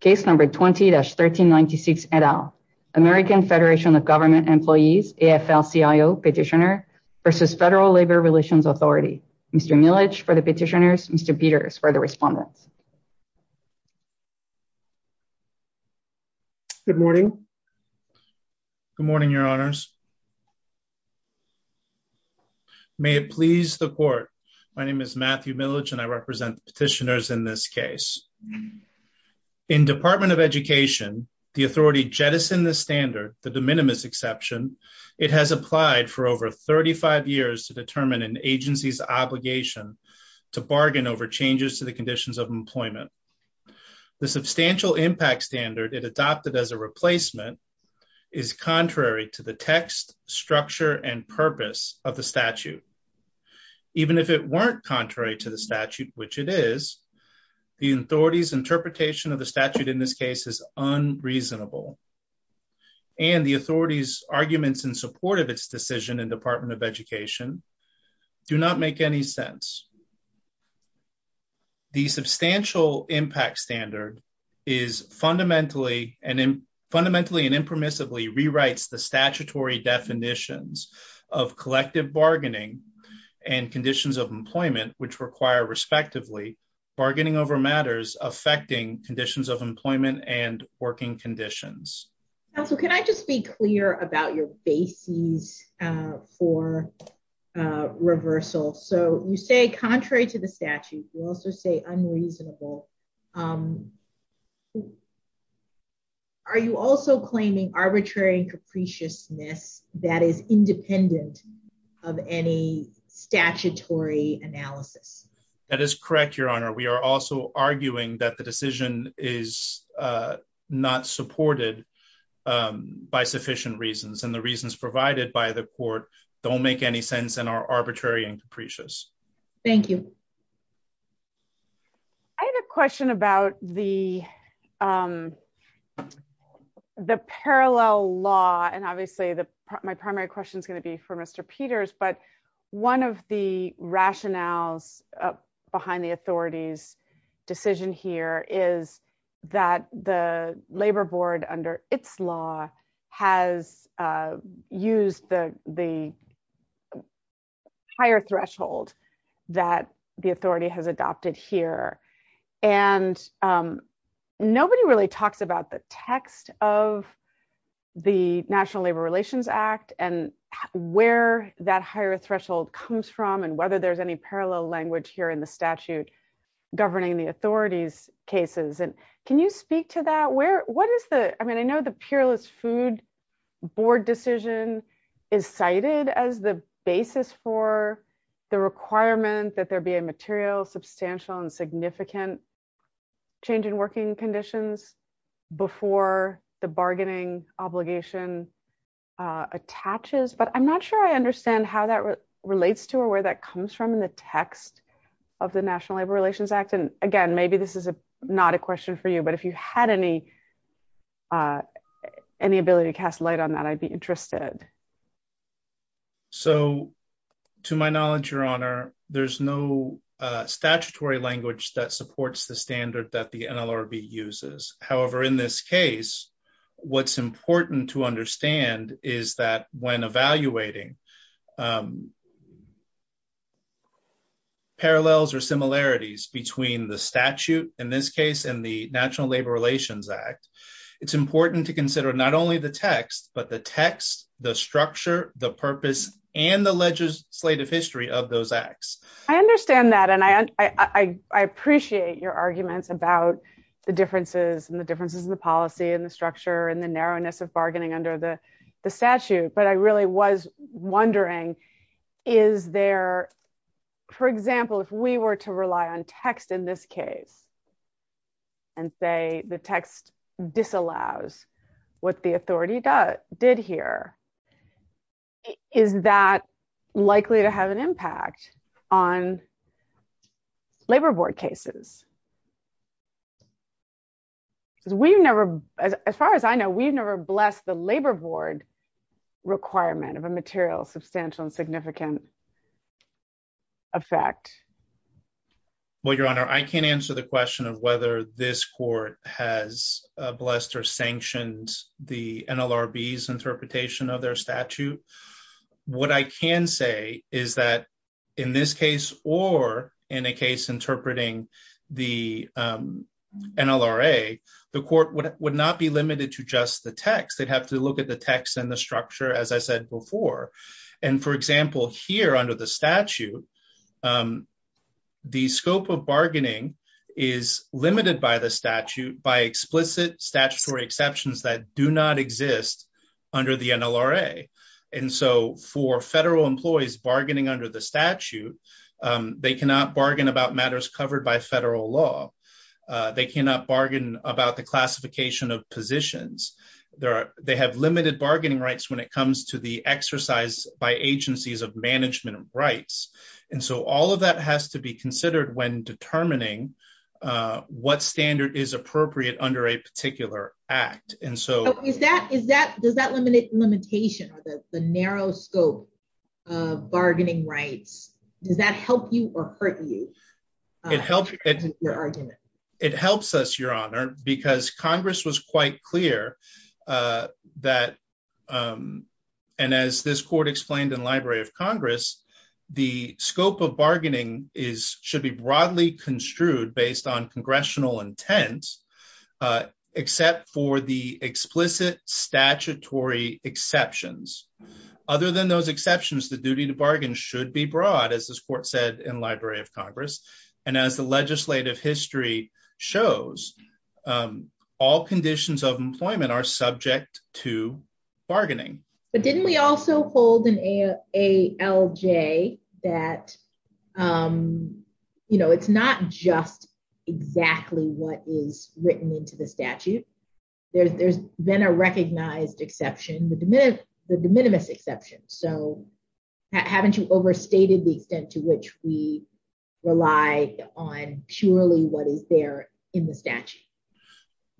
Case number 20-1396 et al. American Federation of Government Employees, AFL-CIO Petitioner v. Federal Labor Relations Authority. Mr. Millage for the petitioners, Mr. Peters for the respondents. Good morning. Good morning, your honors. May it please the court, my name is Matthew Millage and I represent the petitioners in this In Department of Education, the authority jettisoned the standard, the de minimis exception, it has applied for over 35 years to determine an agency's obligation to bargain over changes to the conditions of employment. The substantial impact standard it adopted as a replacement is contrary to the text, structure, and purpose of the statute. Even if it weren't contrary to statute, which it is, the authority's interpretation of the statute in this case is unreasonable and the authority's arguments in support of its decision in Department of Education do not make any sense. The substantial impact standard is fundamentally and impermissibly rewrites the statutory definitions of collective bargaining and conditions of employment which require, respectively, bargaining over matters affecting conditions of employment and working conditions. Counselor, can I just be clear about your bases for reversal? So you say contrary to the statute, you also say unreasonable. Are you also claiming arbitrary and capriciousness that is independent of any statutory analysis? That is correct, Your Honor. We are also arguing that the decision is not supported by sufficient reasons and the reasons provided by the court don't make any sense and are arbitrary and capricious. Thank you. I had a question about the parallel law and obviously my primary question is going to be for Mr. Peters, but one of the rationales behind the authority's decision here is that the labor board under its has used the higher threshold that the authority has adopted here and nobody really talks about the text of the National Labor Relations Act and where that higher threshold comes from and whether there's any parallel language here in the statute governing the authority's cases. Can you speak to that? I know the peerless food board decision is cited as the basis for the requirement that there be a material, substantial, and significant change in working conditions before the bargaining obligation attaches, but I'm not sure I understand how that relates to or where that comes from in the text of the National Labor Relations Act. And again, maybe this is not a question for you, but if you had any ability to cast light on that, I'd be interested. So to my knowledge, Your Honor, there's no statutory language that supports the standard that the NLRB uses. However, in this parallels or similarities between the statute in this case and the National Labor Relations Act, it's important to consider not only the text, but the text, the structure, the purpose, and the legislative history of those acts. I understand that. And I appreciate your arguments about the differences and the differences in the policy and the structure and the narrowness of on text in this case and say the text disallows what the authority did here. Is that likely to have an impact on labor board cases? Because as far as I know, we've never blessed the labor board requirement of a material, substantial, and significant effect. Well, Your Honor, I can't answer the question of whether this court has blessed or sanctioned the NLRB's interpretation of their statute. What I can say is that in this case, or in a case interpreting the NLRA, the court would not be limited to just the text. They'd have to look at the text and the structure, as I said before. And for example, here on page 10, under the statute, the scope of bargaining is limited by the statute by explicit statutory exceptions that do not exist under the NLRA. And so for federal employees bargaining under the statute, they cannot bargain about matters covered by federal law. They cannot bargain about the classification of positions. They have limited bargaining rights when it comes to the exercise by agencies of management rights. And so all of that has to be considered when determining what standard is appropriate under a particular act. And so... Does that limit limitation or the narrow scope of bargaining rights, does that help you or hurt you? It helps us, Your Honor, because Congress was quite clear that, and as this court explained in Library of Congress, the scope of bargaining should be broadly construed based on congressional intent, except for the explicit statutory exceptions. Other than those exceptions, the duty to bargain should be broad, as this court said in Library of Congress. And as the legislative history shows, all conditions of employment are subject to bargaining. But didn't we also hold in ALJ that, you know, it's not just exactly what is written into the statute? There's been a recognized exception, the de minimis exception. So haven't you overstated the extent to which we rely on purely what is there in the statute?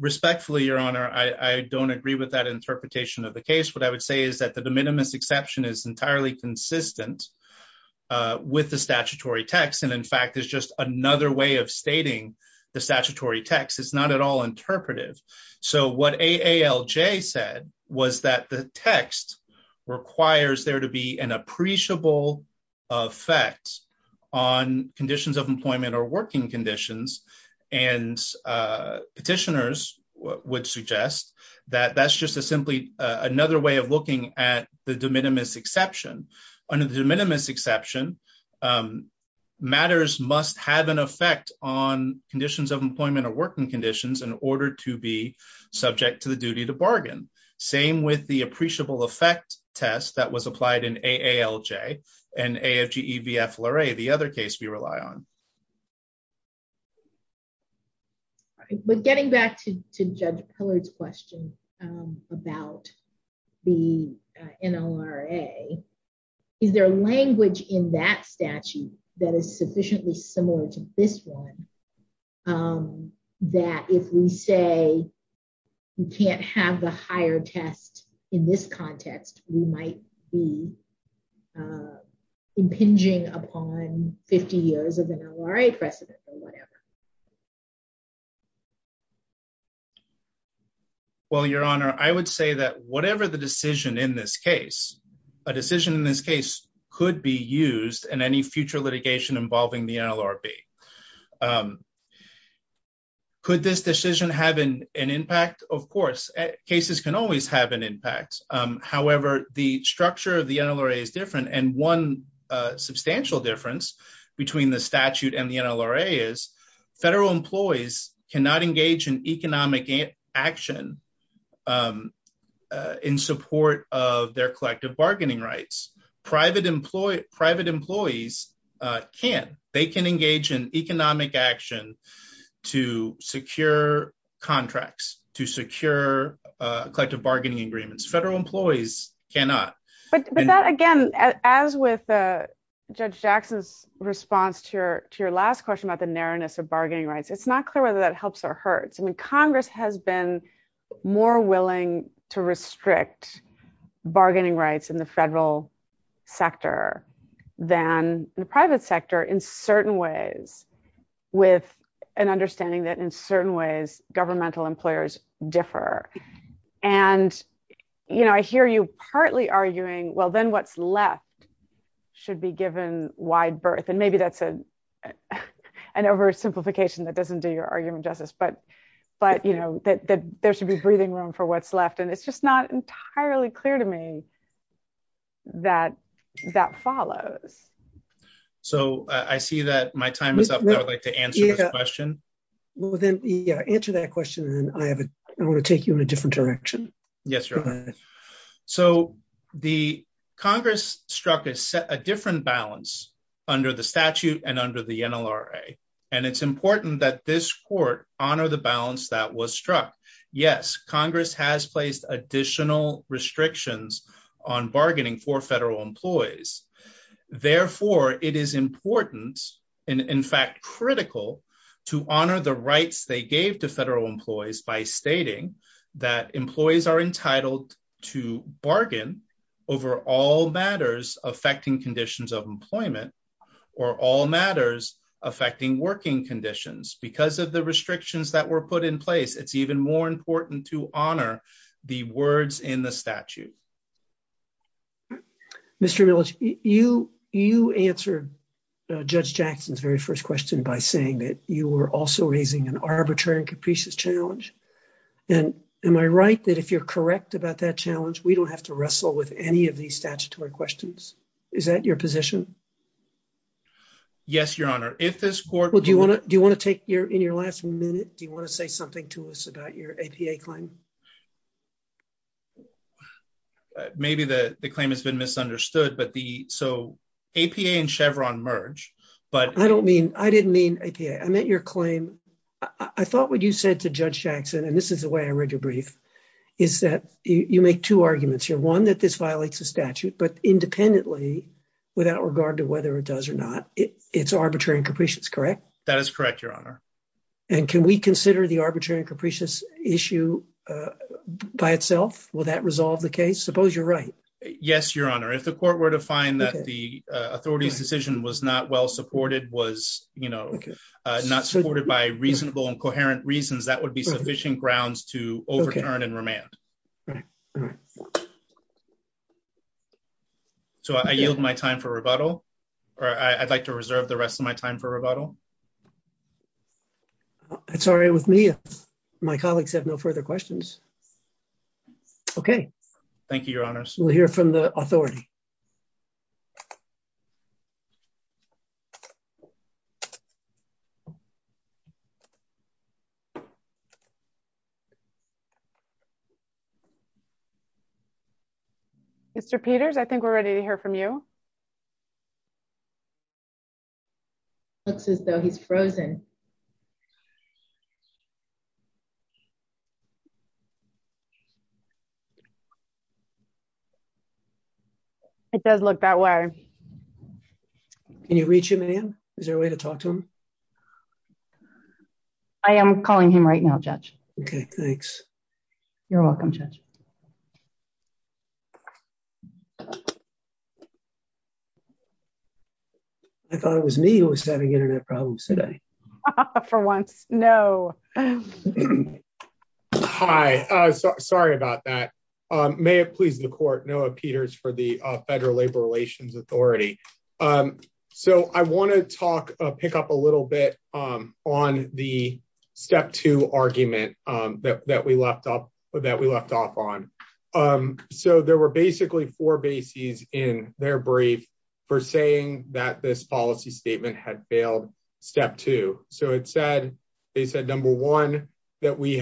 Respectfully, Your Honor, I don't agree with that interpretation of the case. What I would say is that the de minimis exception is entirely consistent with the statutory text. And in fact, there's just another way of stating the statutory text. It's not at all interpretive. So what ALJ said was that the text requires there to be an appreciable effect on conditions of employment or working conditions. And petitioners would suggest that that's just simply another way of looking at the de minimis exception. Under the de minimis exception, matters must have an effect on conditions of employment or working conditions in order to be subject to the duty to bargain. Same with the appreciable effect test that was applied in AALJ and AFGEVFLRA, the other case we had. But getting back to Judge Pillard's question about the NLRA, is there language in that statute that is sufficiently similar to this one that if we say we can't have the higher test in this case, we can't have the NLRA? Well, Your Honor, I would say that whatever the decision in this case, a decision in this case could be used in any future litigation involving the NLRB. Could this decision have an impact? Of course, cases can always have an impact. However, the structure of the NLRA is different. And one substantial difference between the statute and NLRA is federal employees cannot engage in economic action in support of their collective bargaining rights. Private employees can. They can engage in economic action to secure contracts, to secure collective bargaining agreements. Federal employees cannot. But that again, as with Judge Jackson's response to your last question about the narrowness of bargaining rights, it's not clear whether that helps or hurts. I mean, Congress has been more willing to restrict bargaining rights in the federal sector than the private sector in certain ways, with an understanding that in certain ways, governmental employers differ. And, you know, I hear you partly arguing, well, then what's left should be given wide berth. And maybe that's an oversimplification that doesn't do your argument justice. But, you know, that there should be breathing room for what's left. And it's just not entirely clear to me that that follows. So I see that my time is up. I would like to answer this question. Well, then, yeah, answer that question. And I want to take you in a different direction. Yes. So the Congress struck a different balance under the statute and under the NLRA. And it's important that this court honor the balance that was struck. Yes, Congress has placed additional restrictions on bargaining for federal employees. Therefore, it is important, in fact, critical to honor the rights they gave to federal employees by stating that employees are entitled to bargain over all matters affecting conditions of employment, or all matters affecting working conditions. Because of the restrictions that were put in place, it's even more important to honor the words in the statute. Mr. Millich, you answered Judge Jackson's very first question by saying that you were also raising an arbitrary and capricious challenge. And am I right that if you're correct about that challenge, we don't have to wrestle with any of these statutory questions? Is that your position? Yes, Your Honor, if this court... Well, do you want to take your in your last minute, do you want to say something to us about your APA claim? Maybe the claim has been misunderstood, but the so APA and Chevron merge, but... I didn't mean APA, I meant your claim. I thought what you said to Judge Jackson, and this is the way I read your brief, is that you make two arguments here. One, that this violates the statute, but independently, without regard to whether it does or not, it's arbitrary and capricious, correct? That is correct, Your Honor. And can we consider the arbitrary and capricious issue by itself? Will that resolve the case? Suppose you're right. Yes, Your Honor. If the court were to find that the authority's decision was not well supported, was not supported by reasonable and coherent reasons, that would be sufficient grounds to overturn and remand. So I yield my time for rebuttal, or I'd like to reserve the rest of my time for rebuttal. Sorry, with me, my colleagues have no further questions. Okay. Thank you, Your Honors. We'll hear from the authority. Mr. Peters, I think we're ready to hear from you. Looks as though he's frozen. It does look that way. Can you reach him, ma'am? Is there a way to talk to him? I am calling him right now, Judge. Okay, thanks. You're welcome, Judge. I thought it was me who was having internet problems today. For once, no. Hi, sorry about that. May it please the court, Noah Peters for the Federal Labor Relations Authority. So I want to pick up a little bit on the step two argument that we left off on. So there were basically four bases in their brief for saying that this policy statement had failed step two. So they said, number one, that the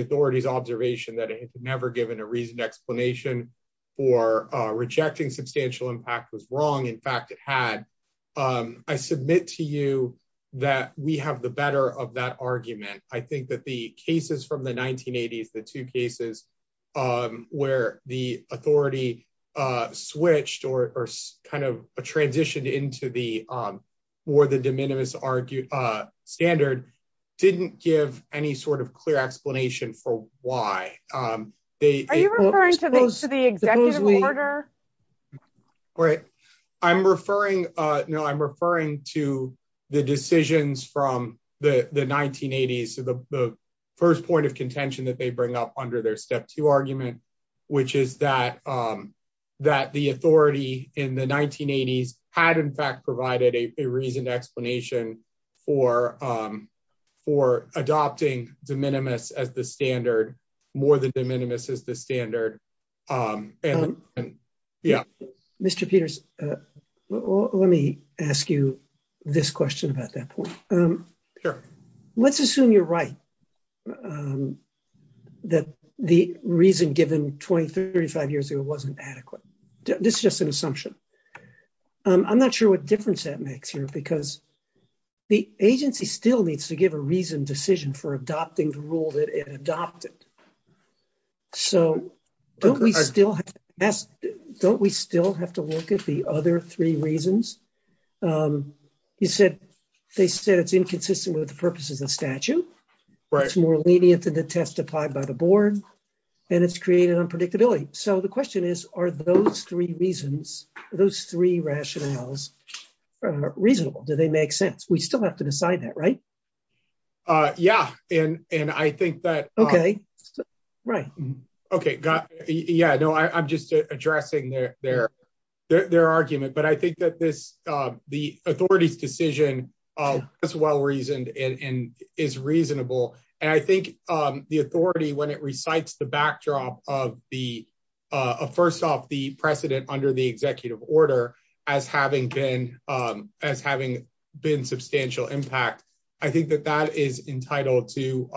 authority's observation that it had never given a reasoned impact was wrong. In fact, it had. I submit to you that we have the better of that argument. I think that the cases from the 1980s, the two cases where the authority switched or kind of transitioned into the more than de minimis standard, didn't give any sort of clear explanation for why. Are you referring to the executive order? Right. I'm referring to the decisions from the 1980s, the first point of contention that they bring up under their step two argument, which is that the authority in the 1980s had in fact provided a reasoned explanation for adopting de minimis as the standard, more than de minimis as the standard. And yeah. Mr. Peters, let me ask you this question about that point. Let's assume you're right. That the reason given 20, 35 years ago wasn't adequate. This is just an assumption. I'm not sure what difference that makes here because the agency still needs to give a reasoned decision for adopting the rule that it adopted. So don't we still have to look at the other three reasons? You said, they said it's inconsistent with the purposes of statute, it's more lenient than the test applied by the board, and it's created unpredictability. So the question is, are those three reasons, those three rationales reasonable? Do they make sense? We still have to decide that, right? Yeah. And, and I think that. Okay, right. Okay, got it. Yeah, no, I'm just addressing their, their, their argument. But I think that this, the authority's decision is well reasoned and is reasonable. And I think the authority when it recites the backdrop of the first off the precedent under the executive order as having been, as having been substantial impact. I think that that is entitled to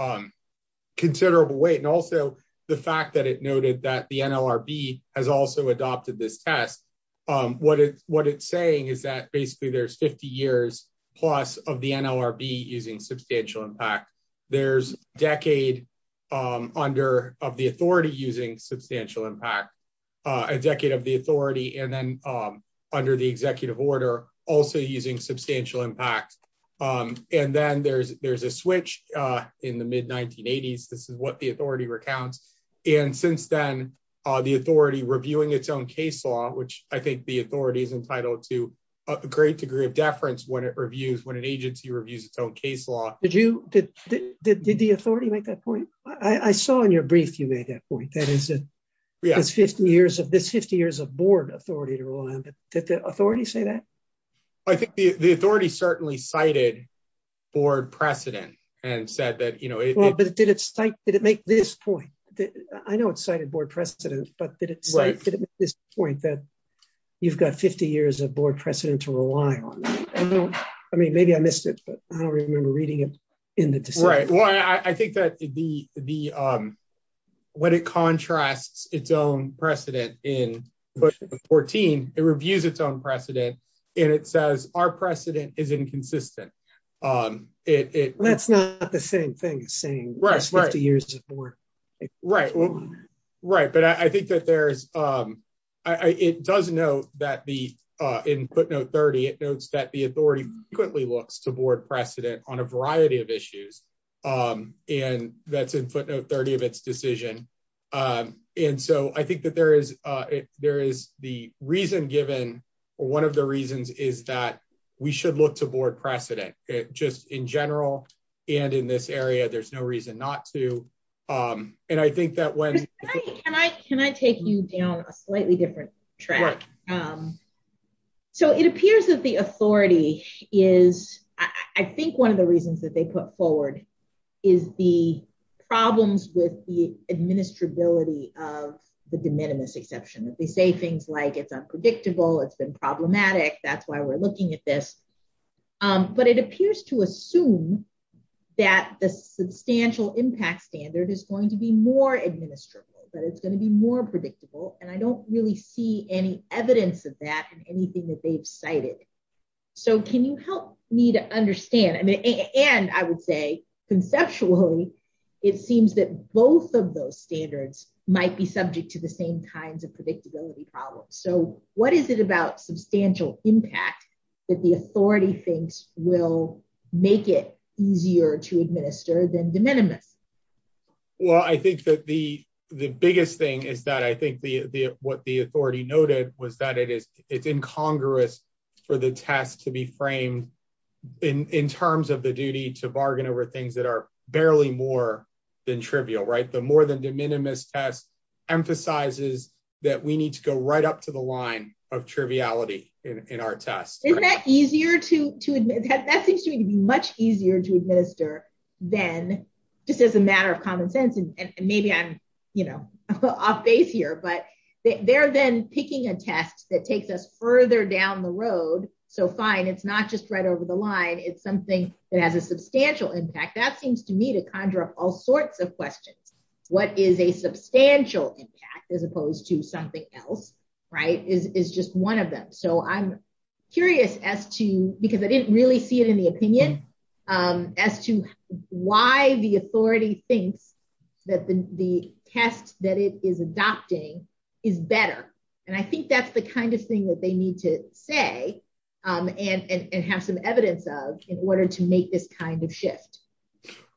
considerable weight. And also the fact that it noted that the NLRB has also adopted this test. What it's, what it's saying is that basically there's 50 years plus of the NLRB using substantial impact. There's decade under, of the authority using substantial impact. A decade of the authority and then under the executive order also using substantial impact. And then there's, there's a switch in the mid 1980s. This is what the authority recounts. And since then, the authority reviewing its own case law, which I think the authority is entitled to a great degree of deference when it reviews, when an agency reviews its own case law. Did you, did, did, did the authority make that point? I saw in your brief, you made that point. That is, that's 50 years of, that's 50 years of board authority to rule on. Did the authority say that? I think the, the authority certainly cited board precedent and said that, you know, Did it make this point? I know it's cited board precedent, but did it make this point that you've got 50 years of board precedent to rely on? I mean, maybe I missed it, but I don't remember reading it in the decision. Right. Well, I think that the, the, when it contrasts its own precedent in book 14, it reviews its own precedent and it says our precedent is inconsistent. It, it. That's not the same thing as saying 50 years of board. Right. Right. But I think that there's, it does note that the, in footnote 30, it notes that the authority frequently looks to board precedent on a variety of issues. And that's in footnote 30 of its decision. And so I think that there is, there is the reason given, or one of the reasons is that we should look to board precedent, just in general, and in this area, there's no reason not to. And I think that when. Can I take you down a slightly different track? So it appears that the authority is, I think one of the reasons that they put forward is the problems with the administrability of the de minimis exception that they say things like it's unpredictable. It's been problematic. That's why we're looking at this. But it appears to assume that the substantial impact standard is going to be more administrable, but it's going to be more predictable. And I don't really see any evidence of that and anything that they've cited. So can you help me to understand? And I would say, conceptually, it seems that both of those standards might be subject to the same kinds of predictability problems. So what is it about substantial impact that the authority thinks will make it easier to administer than de minimis? Well, I think that the, the biggest thing is that I think the, the, what the authority noted was that it is, it's incongruous for the test to be framed in terms of the duty to bargain over things that are barely more than trivial, right? The more than de minimis test emphasizes that we need to go right up to the line of triviality in our test. Isn't that easier to, that seems to me to be much easier to administer than just as a takes us further down the road. So fine. It's not just right over the line. It's something that has a substantial impact that seems to me to conjure up all sorts of questions. What is a substantial impact as opposed to something else, right? Is, is just one of them. So I'm curious as to, because I didn't really see it in the opinion as to why the authority thinks that the test that it is adopting is better. And I think that's the kind of thing that they need to say and have some evidence of in order to make this kind of shift.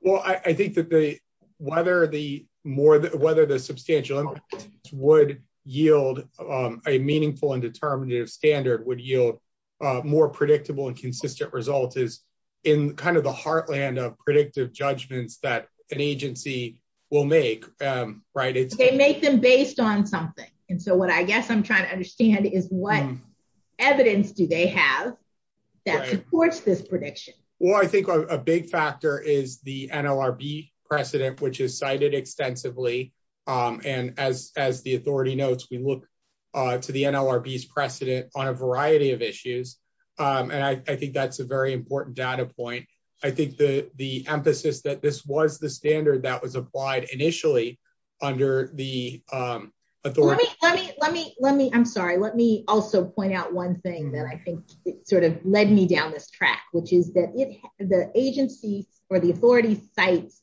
Well, I think that the, whether the more, whether the substantial would yield a meaningful and determinative standard would yield more predictable and consistent results is in kind of the heartland of predictive judgments that an agency will make, right? They make them based on something. And so what I guess I'm trying to understand is what evidence do they have that supports this prediction? Well, I think a big factor is the NLRB precedent, which is cited extensively. And as, as the authority notes, we look to the NLRBs precedent on a variety of issues. And I think that's a very important data point. I think the emphasis that this was the standard that was applied initially under the authority. Let me, let me, let me, I'm sorry. Let me also point out one thing that I think sort of led me down this track, which is that the agency or the authority cites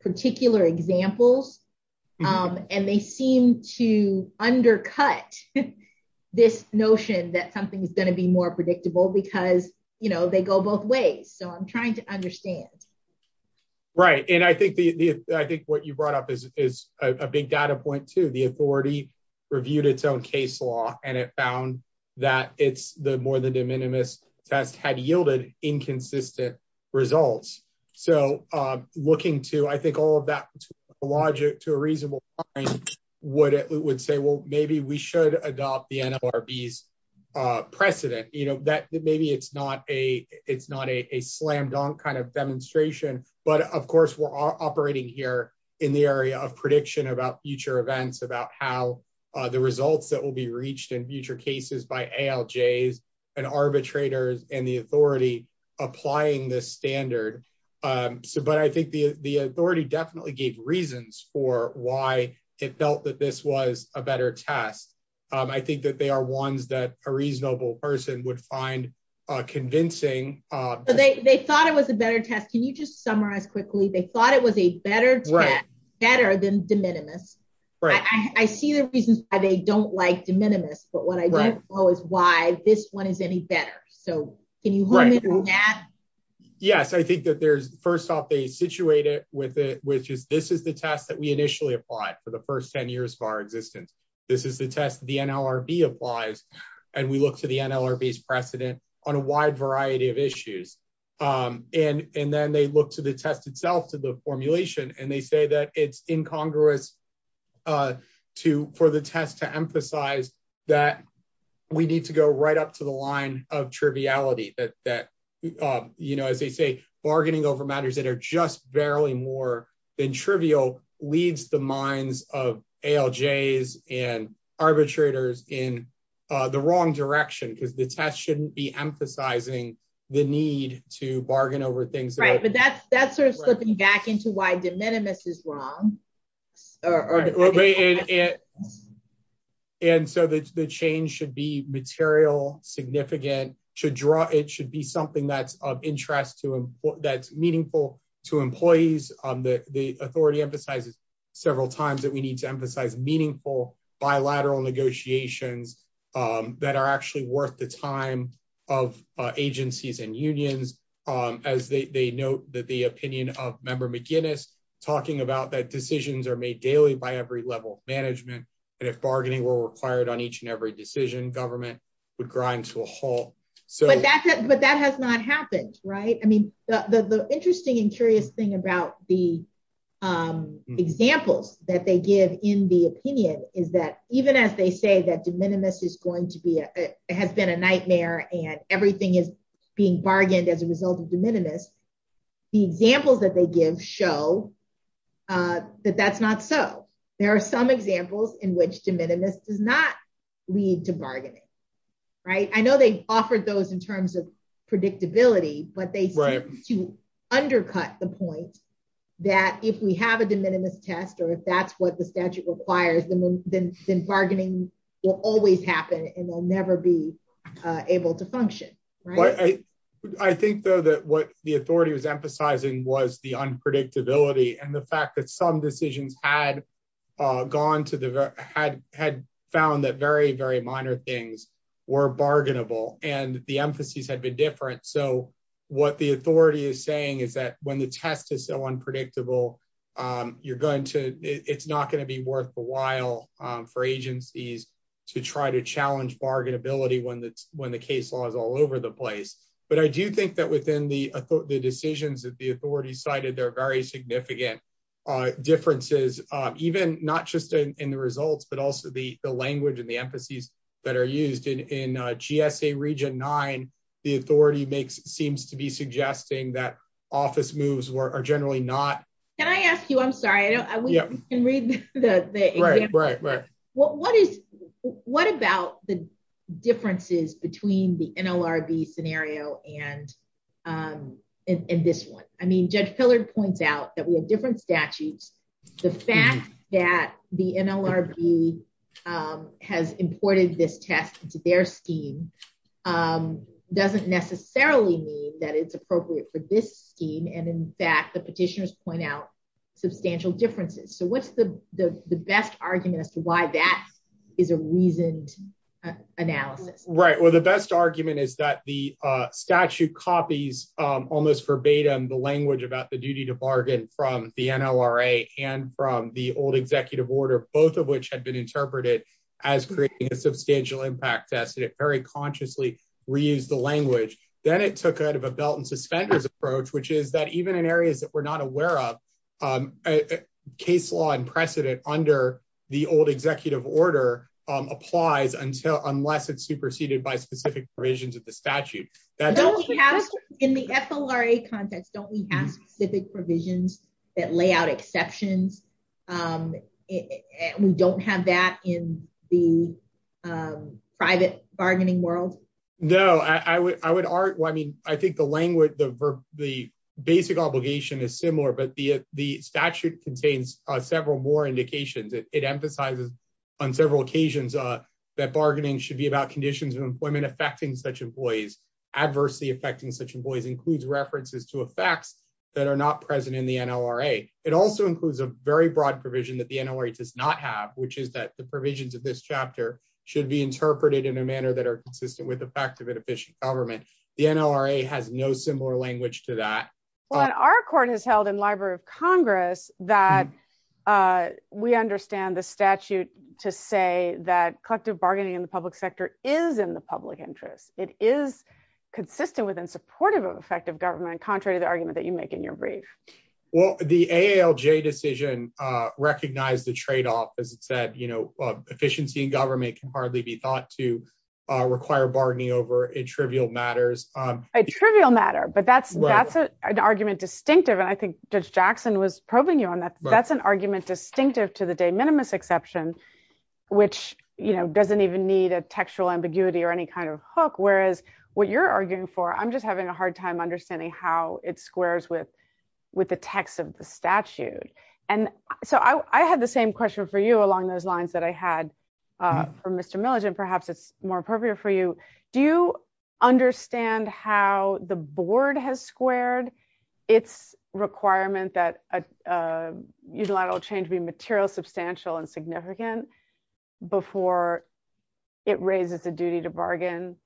particular examples and they seem to undercut this notion that something is going to be more predictable because, you know, they go both ways. So I'm trying to understand. Right. And I think the, I think what you brought up is a big data point to the authority reviewed its own case law and it found that it's the more than de minimis test had yielded inconsistent results. So I'm looking to, I think all of that logic to a reasonable point would say, well, maybe we should adopt the NLRBs precedent, you know, that maybe it's not a, it's not a slam dunk kind of demonstration. But of course we're operating here in the area of prediction about future events, about how the results that will be reached in future cases by ALJs and arbitrators and the authority applying this standard. So, but I think the, the authority definitely gave reasons for why it felt that this was a better test. I think that they are ones that a reasonable person would find convincing. They thought it was a better test. Can you just summarize quickly? They thought it was a better test, better than de minimis. I see the reasons why they don't like de minimis, but what I don't know is why this one is any better. So can you hold me to that? Yes. I think that there's, first off they situated with it, which is, this is the test that we initially applied for the first 10 years of our existence. This is the test that the NLRB applies. And we look to the NLRB's precedent on a wide variety of issues. And, and then they look to the test itself, to the formulation, and they say that it's incongruous to, for the test to emphasize that we need to go right up to the line of triviality that, that you know, as they say, bargaining over matters that are just barely more than trivial leads the minds of ALJs and arbitrators in the wrong direction, because the test shouldn't be emphasizing the need to bargain over things. Right. But that's, that's sort of slipping back into why de minimis is wrong. And so the change should be material, significant, should draw, it should be something that's of interest to, that's meaningful to employees. The authority emphasizes several times that we need to emphasize meaningful bilateral negotiations that are actually worth the time of agencies and unions, as they note that the opinion of member McGinnis talking about that decisions are made daily by every level of management. And if bargaining were required on each and every decision, government would grind to a halt. So, but that has not happened. Right. I mean, the interesting and curious thing about the examples that they give in the opinion is that even as they say that de minimis is going to be, it has been a nightmare and everything is being bargained as a result of de minimis, the examples that they give show that that's not so. There are some examples in which de minimis does not lead to bargaining. Right. I know they offered those in terms of predictability, but they seem to undercut the point that if we have a de minimis test or if that's what the statute requires, then bargaining will always happen and we'll never be able to function. I think though that what the authority was emphasizing was the unpredictability and the fact that some decisions had found that very, very minor things were bargainable and the emphases had been different. So, what the authority is saying is that when the test is so unpredictable, it's not going to be worthwhile for agencies to try to challenge bargainability when the case law is all over the place. But I do think that within the decisions that the authority cited, there are very significant differences, even not just in the results, but also the language and the emphases that are used. In GSA Region 9, the authority seems to be suggesting that office moves are generally not- Can I ask you, I'm sorry, I don't know if you can read the example, but what about the NLRB scenario and this one? I mean, Judge Pillard points out that we have different statutes. The fact that the NLRB has imported this test into their scheme doesn't necessarily mean that it's appropriate for this scheme. And in fact, the petitioners point out substantial differences. So, what's the best argument as to why that is a reasoned analysis? Right, well, the best argument is that the statute copies almost verbatim the language about the duty to bargain from the NLRA and from the old executive order, both of which had been interpreted as creating a substantial impact test, and it very consciously reused the language. Then it took out of a belt and suspenders approach, which is that even in areas that we're not aware of, case law and precedent under the old executive order applies unless it's superseded by specific provisions of the statute. In the FLRA context, don't we have specific provisions that lay out exceptions and we don't have that in the private bargaining world? No, I mean, I think the language, the basic obligation is similar, but the statute contains several more indications. It emphasizes on several occasions that bargaining should be about conditions of employment affecting such employees. Adversely affecting such employees includes references to effects that are not present in the NLRA. It also includes a very broad provision that the NLRA does not have, which is that the provisions of this chapter should be interpreted in a manner that are consistent with effective and efficient government. The NLRA has no similar language to that. Well, our court has held in Library of Congress that we understand the statute to say that collective bargaining in the public sector is in the public interest. It is consistent with and supportive of effective government, contrary to the argument that you make in your brief. Well, the AALJ decision recognized the trade-off, as it said, efficiency in government can hardly be thought to require bargaining over in trivial matters. A trivial matter, but that's an argument distinctive. And I think Judge Jackson was probing you on that. That's an argument distinctive to the de minimis exception, which doesn't even need a textual ambiguity or any kind of hook, whereas what you're arguing for, I'm just having a hard time understanding how it squares with the text of the statute. And so I had the same question for you along those lines that I had for Mr. Milligen. Perhaps it's more appropriate for you. Do you understand how the board has squared its requirement that a unilateral change be material, substantial, and significant before it raises the duty to bargain,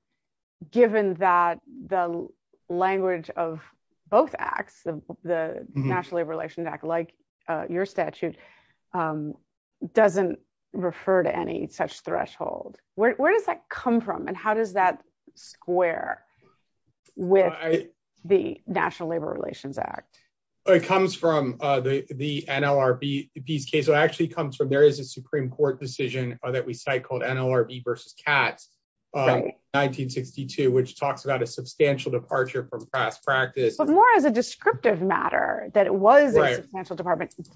given that the language of both acts of the National Labor Relations Act, like your statute, doesn't refer to any such threshold? Where does that come from? And how does that square with the National Labor Relations Act? It comes from the NLRB's case. So it actually comes from, there is a Supreme Court decision that we cite called NLRB versus Katz, 1962, which talks about a substantial departure from past practice. But more as a descriptive matter, that it was a substantial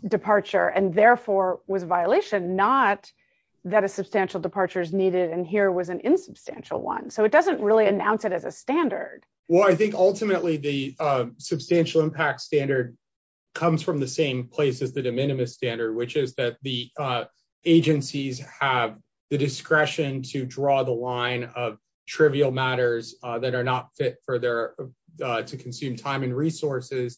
departure and therefore was a violation, not that a substantial departure is needed and here was an insubstantial one. So it doesn't really announce it as a standard. Well, I think ultimately the substantial impact standard comes from the same place as the de minimis standard, which is that the agencies have the discretion to draw the line of trivial matters that are not fit for their, to consume time and resources.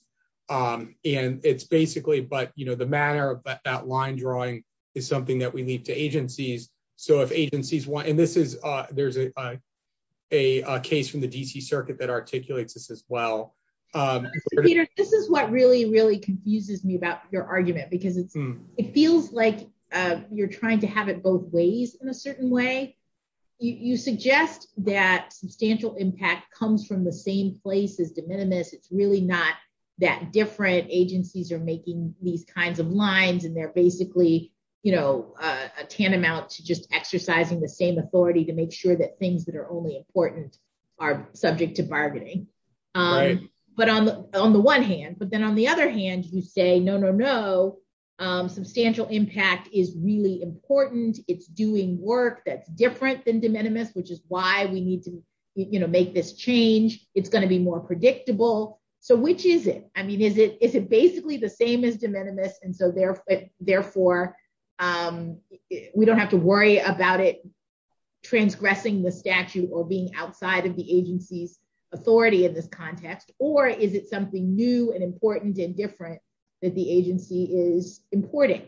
And it's basically, but the manner of that line drawing is something that we leave to agencies. So if agencies want, and this is, there's a case from the DC circuit that articulates this as well. Peter, this is what really, really confuses me about your argument, because it feels like you're trying to have it both ways in a certain way. You suggest that substantial impact comes from the same place as de minimis. It's really not that different. Agencies are making these kinds of lines and they're basically a tantamount to just exercising the same authority to make sure that things that are only important are subject to bargaining. But on the one hand, but then on the other hand, you say, no, no, no. Substantial impact is really important. It's doing work that's different than de minimis, which is why we need to make this change. It's going to be more predictable. So which is it? I mean, is it, is it basically the same as de minimis? And so therefore we don't have to worry about it transgressing the statute or being outside of the agency's authority in this context, or is it something new and important and different that the agency is importing?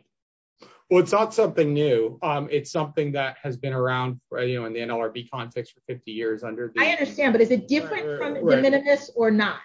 Well, it's not something new. It's something that has been around, you know, in the NLRB context for 50 years. I understand, but is it different from de minimis or not?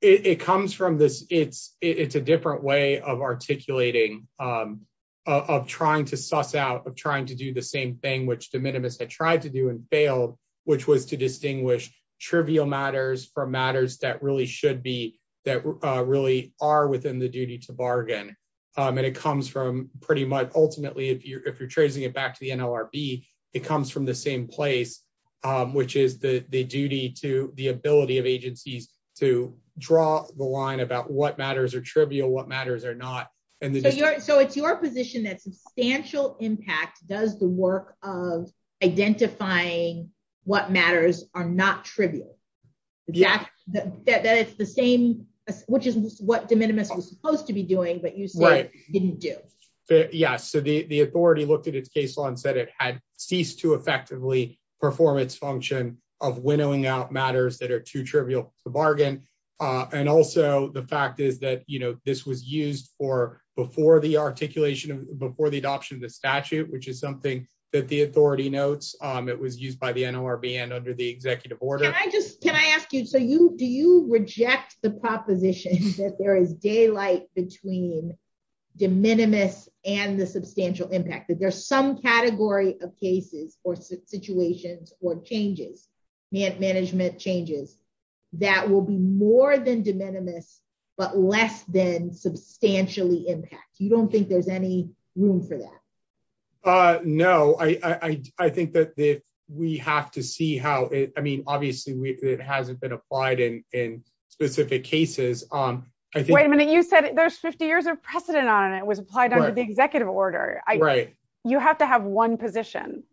It comes from this, it's, it's a different way of articulating, of trying to suss out, of trying to do the same thing, which de minimis had tried to do and failed, which was to distinguish trivial matters from matters that really should be, that really are within the duty to bargain. And it comes from pretty much ultimately, if you're, if you're tracing it back to the NLRB, it comes from the same place, which is the, the duty to the ability of agencies to draw the line about what matters are trivial, what matters are not. And so it's your position that substantial impact does the work of identifying what matters are not trivial, that it's the same, which is what de minimis was supposed to be doing, but you said didn't do. Yeah, so the, the authority looked at its case law and said it had ceased to effectively perform its function of winnowing out matters that are too trivial to bargain. And also the fact is that, you know, this was used for, before the articulation of, before the adoption of the statute, which is something that the authority notes. It was used by the NLRB and under the executive order. Can I just, can I ask you, so you, do you reject the proposition that there is daylight between de minimis and the substantial impact, that there's some category of cases or situations or changes, management changes that will be more than de minimis, but less than substantially impact. You don't think there's any room for that? No, I, I think that we have to see how it, I mean, obviously it hasn't been applied in, in specific cases. Wait a minute. You said there's 50 years of precedent on it. It was applied under the executive order. You have to have one position.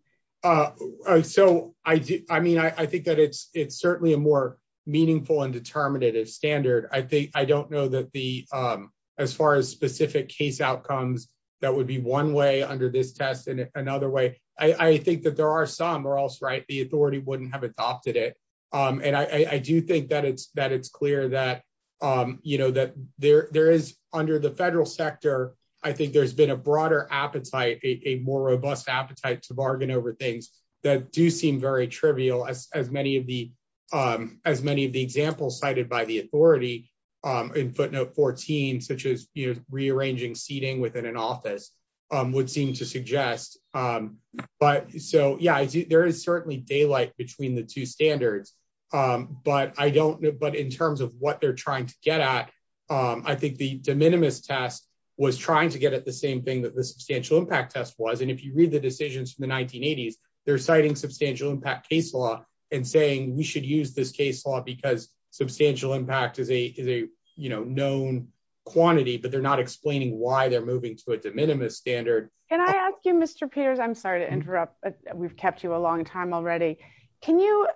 So I do. I mean, I think that it's, it's certainly a more meaningful and determinative standard. I think, I don't know that the, as far as specific case outcomes, that would be one way under this test and another way. I think that there are some or else right. The authority wouldn't have adopted it. And I, I do think that it's, that it's clear that, you know, that there, there is under the federal sector. I think there's been a broader appetite, a more robust appetite to bargain over things that do seem very trivial as, as many of the, as many of the examples cited by the authority in footnote 14, such as rearranging seating within an office would seem to suggest. But so, yeah, there is certainly daylight between the two standards. But I don't know, but in terms of what they're trying to get at, I think the de minimis test was trying to get at the same thing that the substantial impact test was. And if you read the decisions from the 1980s, they're citing substantial impact case law and saying, we should use this case law because substantial impact is a, is a, you know, known quantity, but they're not explaining why they're moving to a de minimis standard. Can I ask you, Mr. Peters, I'm sorry to interrupt, but we've kept you a long time already. Can you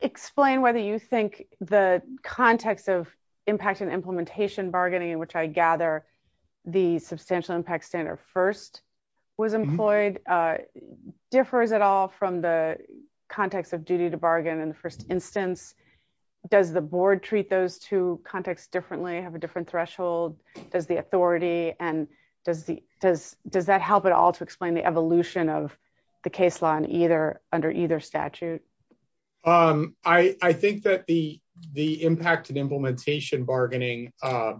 explain whether you think the context of impact and implementation bargaining in which I gather the substantial impact standard first was employed differs at all from the context of duty to bargain in the first instance, does the board treat those two contexts differently, have a different threshold? Does the authority and does the, does, does that help at all to explain the evolution of the case law and either under either statute? Um, I, I think that the, the impact and implementation bargaining, uh,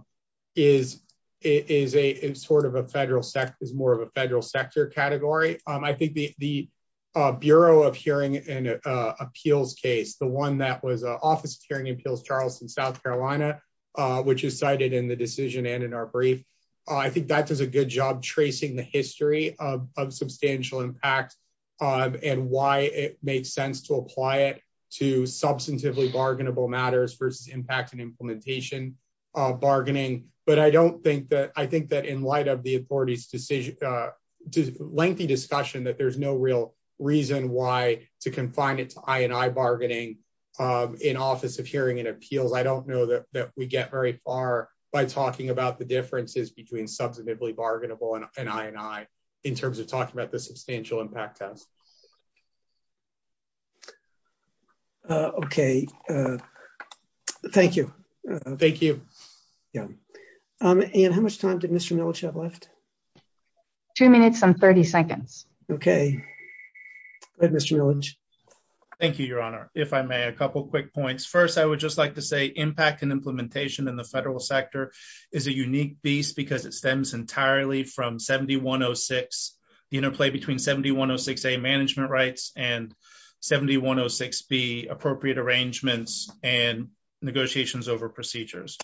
is, is a, is sort of a federal SEC is more of a federal sector category. Um, I think the, the, uh, bureau of hearing and, uh, appeals case, the one that was, uh, office hearing appeals, Charleston, South Carolina, uh, which is cited in the decision and in our brief, uh, I think that does a good job tracing the history of, of substantial impact, um, and why it makes sense to apply it to substantively bargainable matters versus impact and implementation, uh, bargaining. But I don't think that I think that in light of the authority's decision, uh, lengthy discussion that there's no real reason why to confine it to I and I bargaining, um, in office of hearing and appeals. I don't know that, that we get very far by talking about the differences between substantively bargainable and I, and I, in terms of talking about the substantial impact test. Uh, okay. Thank you. Thank you. Yeah. Um, and how much time did Mr. Milich have left? Two minutes and 30 seconds. Okay. Go ahead, Mr. Milich. Thank you, Your Honor. If I may, a couple of quick points. First, I would just like to say impact and implementation in the federal sector is a unique beast because it stems entirely from 7106, the interplay between 7106A, management rights, and 7106B, appropriate arrangements and negotiations over procedures.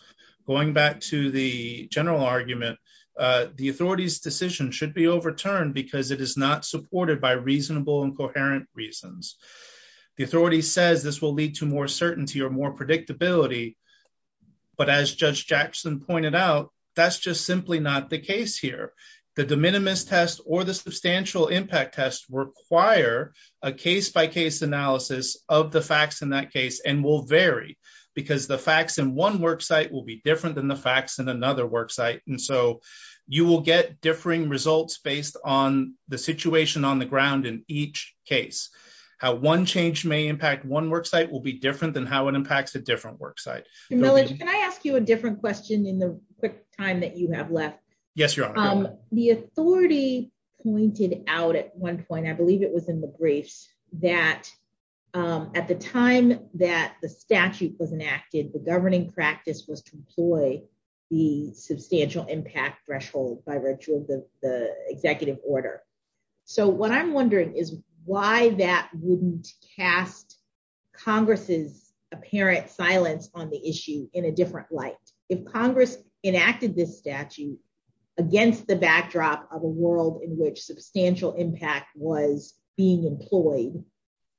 Going back to the general argument, uh, the authority's decision should be overturned because it is not supported by reasonable and coherent reasons. The authority says this will lead to more certainty or more predictability, but as Judge Jackson pointed out, that's just simply not the case here. The de minimis test or the substantial impact test require a case-by-case analysis of the facts in that case and will vary because the facts in one worksite will be different than the facts in another worksite. And so you will get differing results based on the situation on the ground in each case. How one change may impact one worksite will be different than how it impacts a different worksite. Milich, can I ask you a different question in the quick time that you have left? Yes, Your Honor. The authority pointed out at one point, I believe it was in the briefs, that at the time that the statute was enacted, the governing practice was to employ the substantial impact threshold by virtue of the executive order. So what I'm wondering is why that wouldn't cast Congress's apparent silence on the issue in a different light. If Congress enacted this statute against the backdrop of a world in which substantial impact was being employed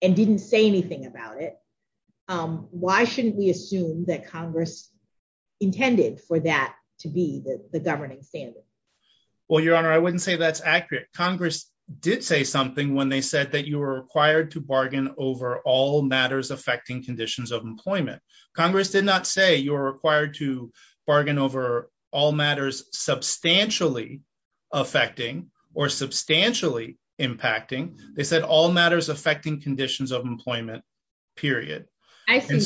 and didn't say anything about it, why shouldn't we assume that Congress intended for that to be the governing standard? Well, Your Honor, I wouldn't say that's accurate. Congress did say something when they said that you were required to bargain over all matters affecting conditions of employment. Congress did not say you were required to bargain over all matters substantially affecting or substantially impacting. They said all matters affecting conditions of employment, period. Your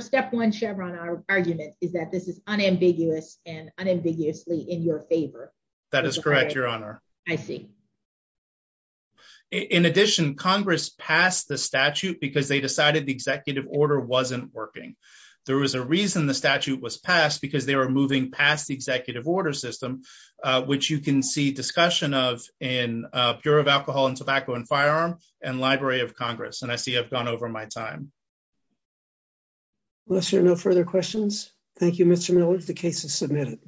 step one, Chevron, argument is that this is unambiguous and unambiguously in your favor. That is correct, Your Honor. I see. In addition, Congress passed the statute because they decided the executive order wasn't working. There was a reason the statute was passed because they were moving past the executive order system, which you can see discussion of in Bureau of Alcohol and Tobacco and Firearm and Library of Congress. And I see I've gone over my time. Unless there are no further questions. Thank you, Mr. Miller. The case is submitted.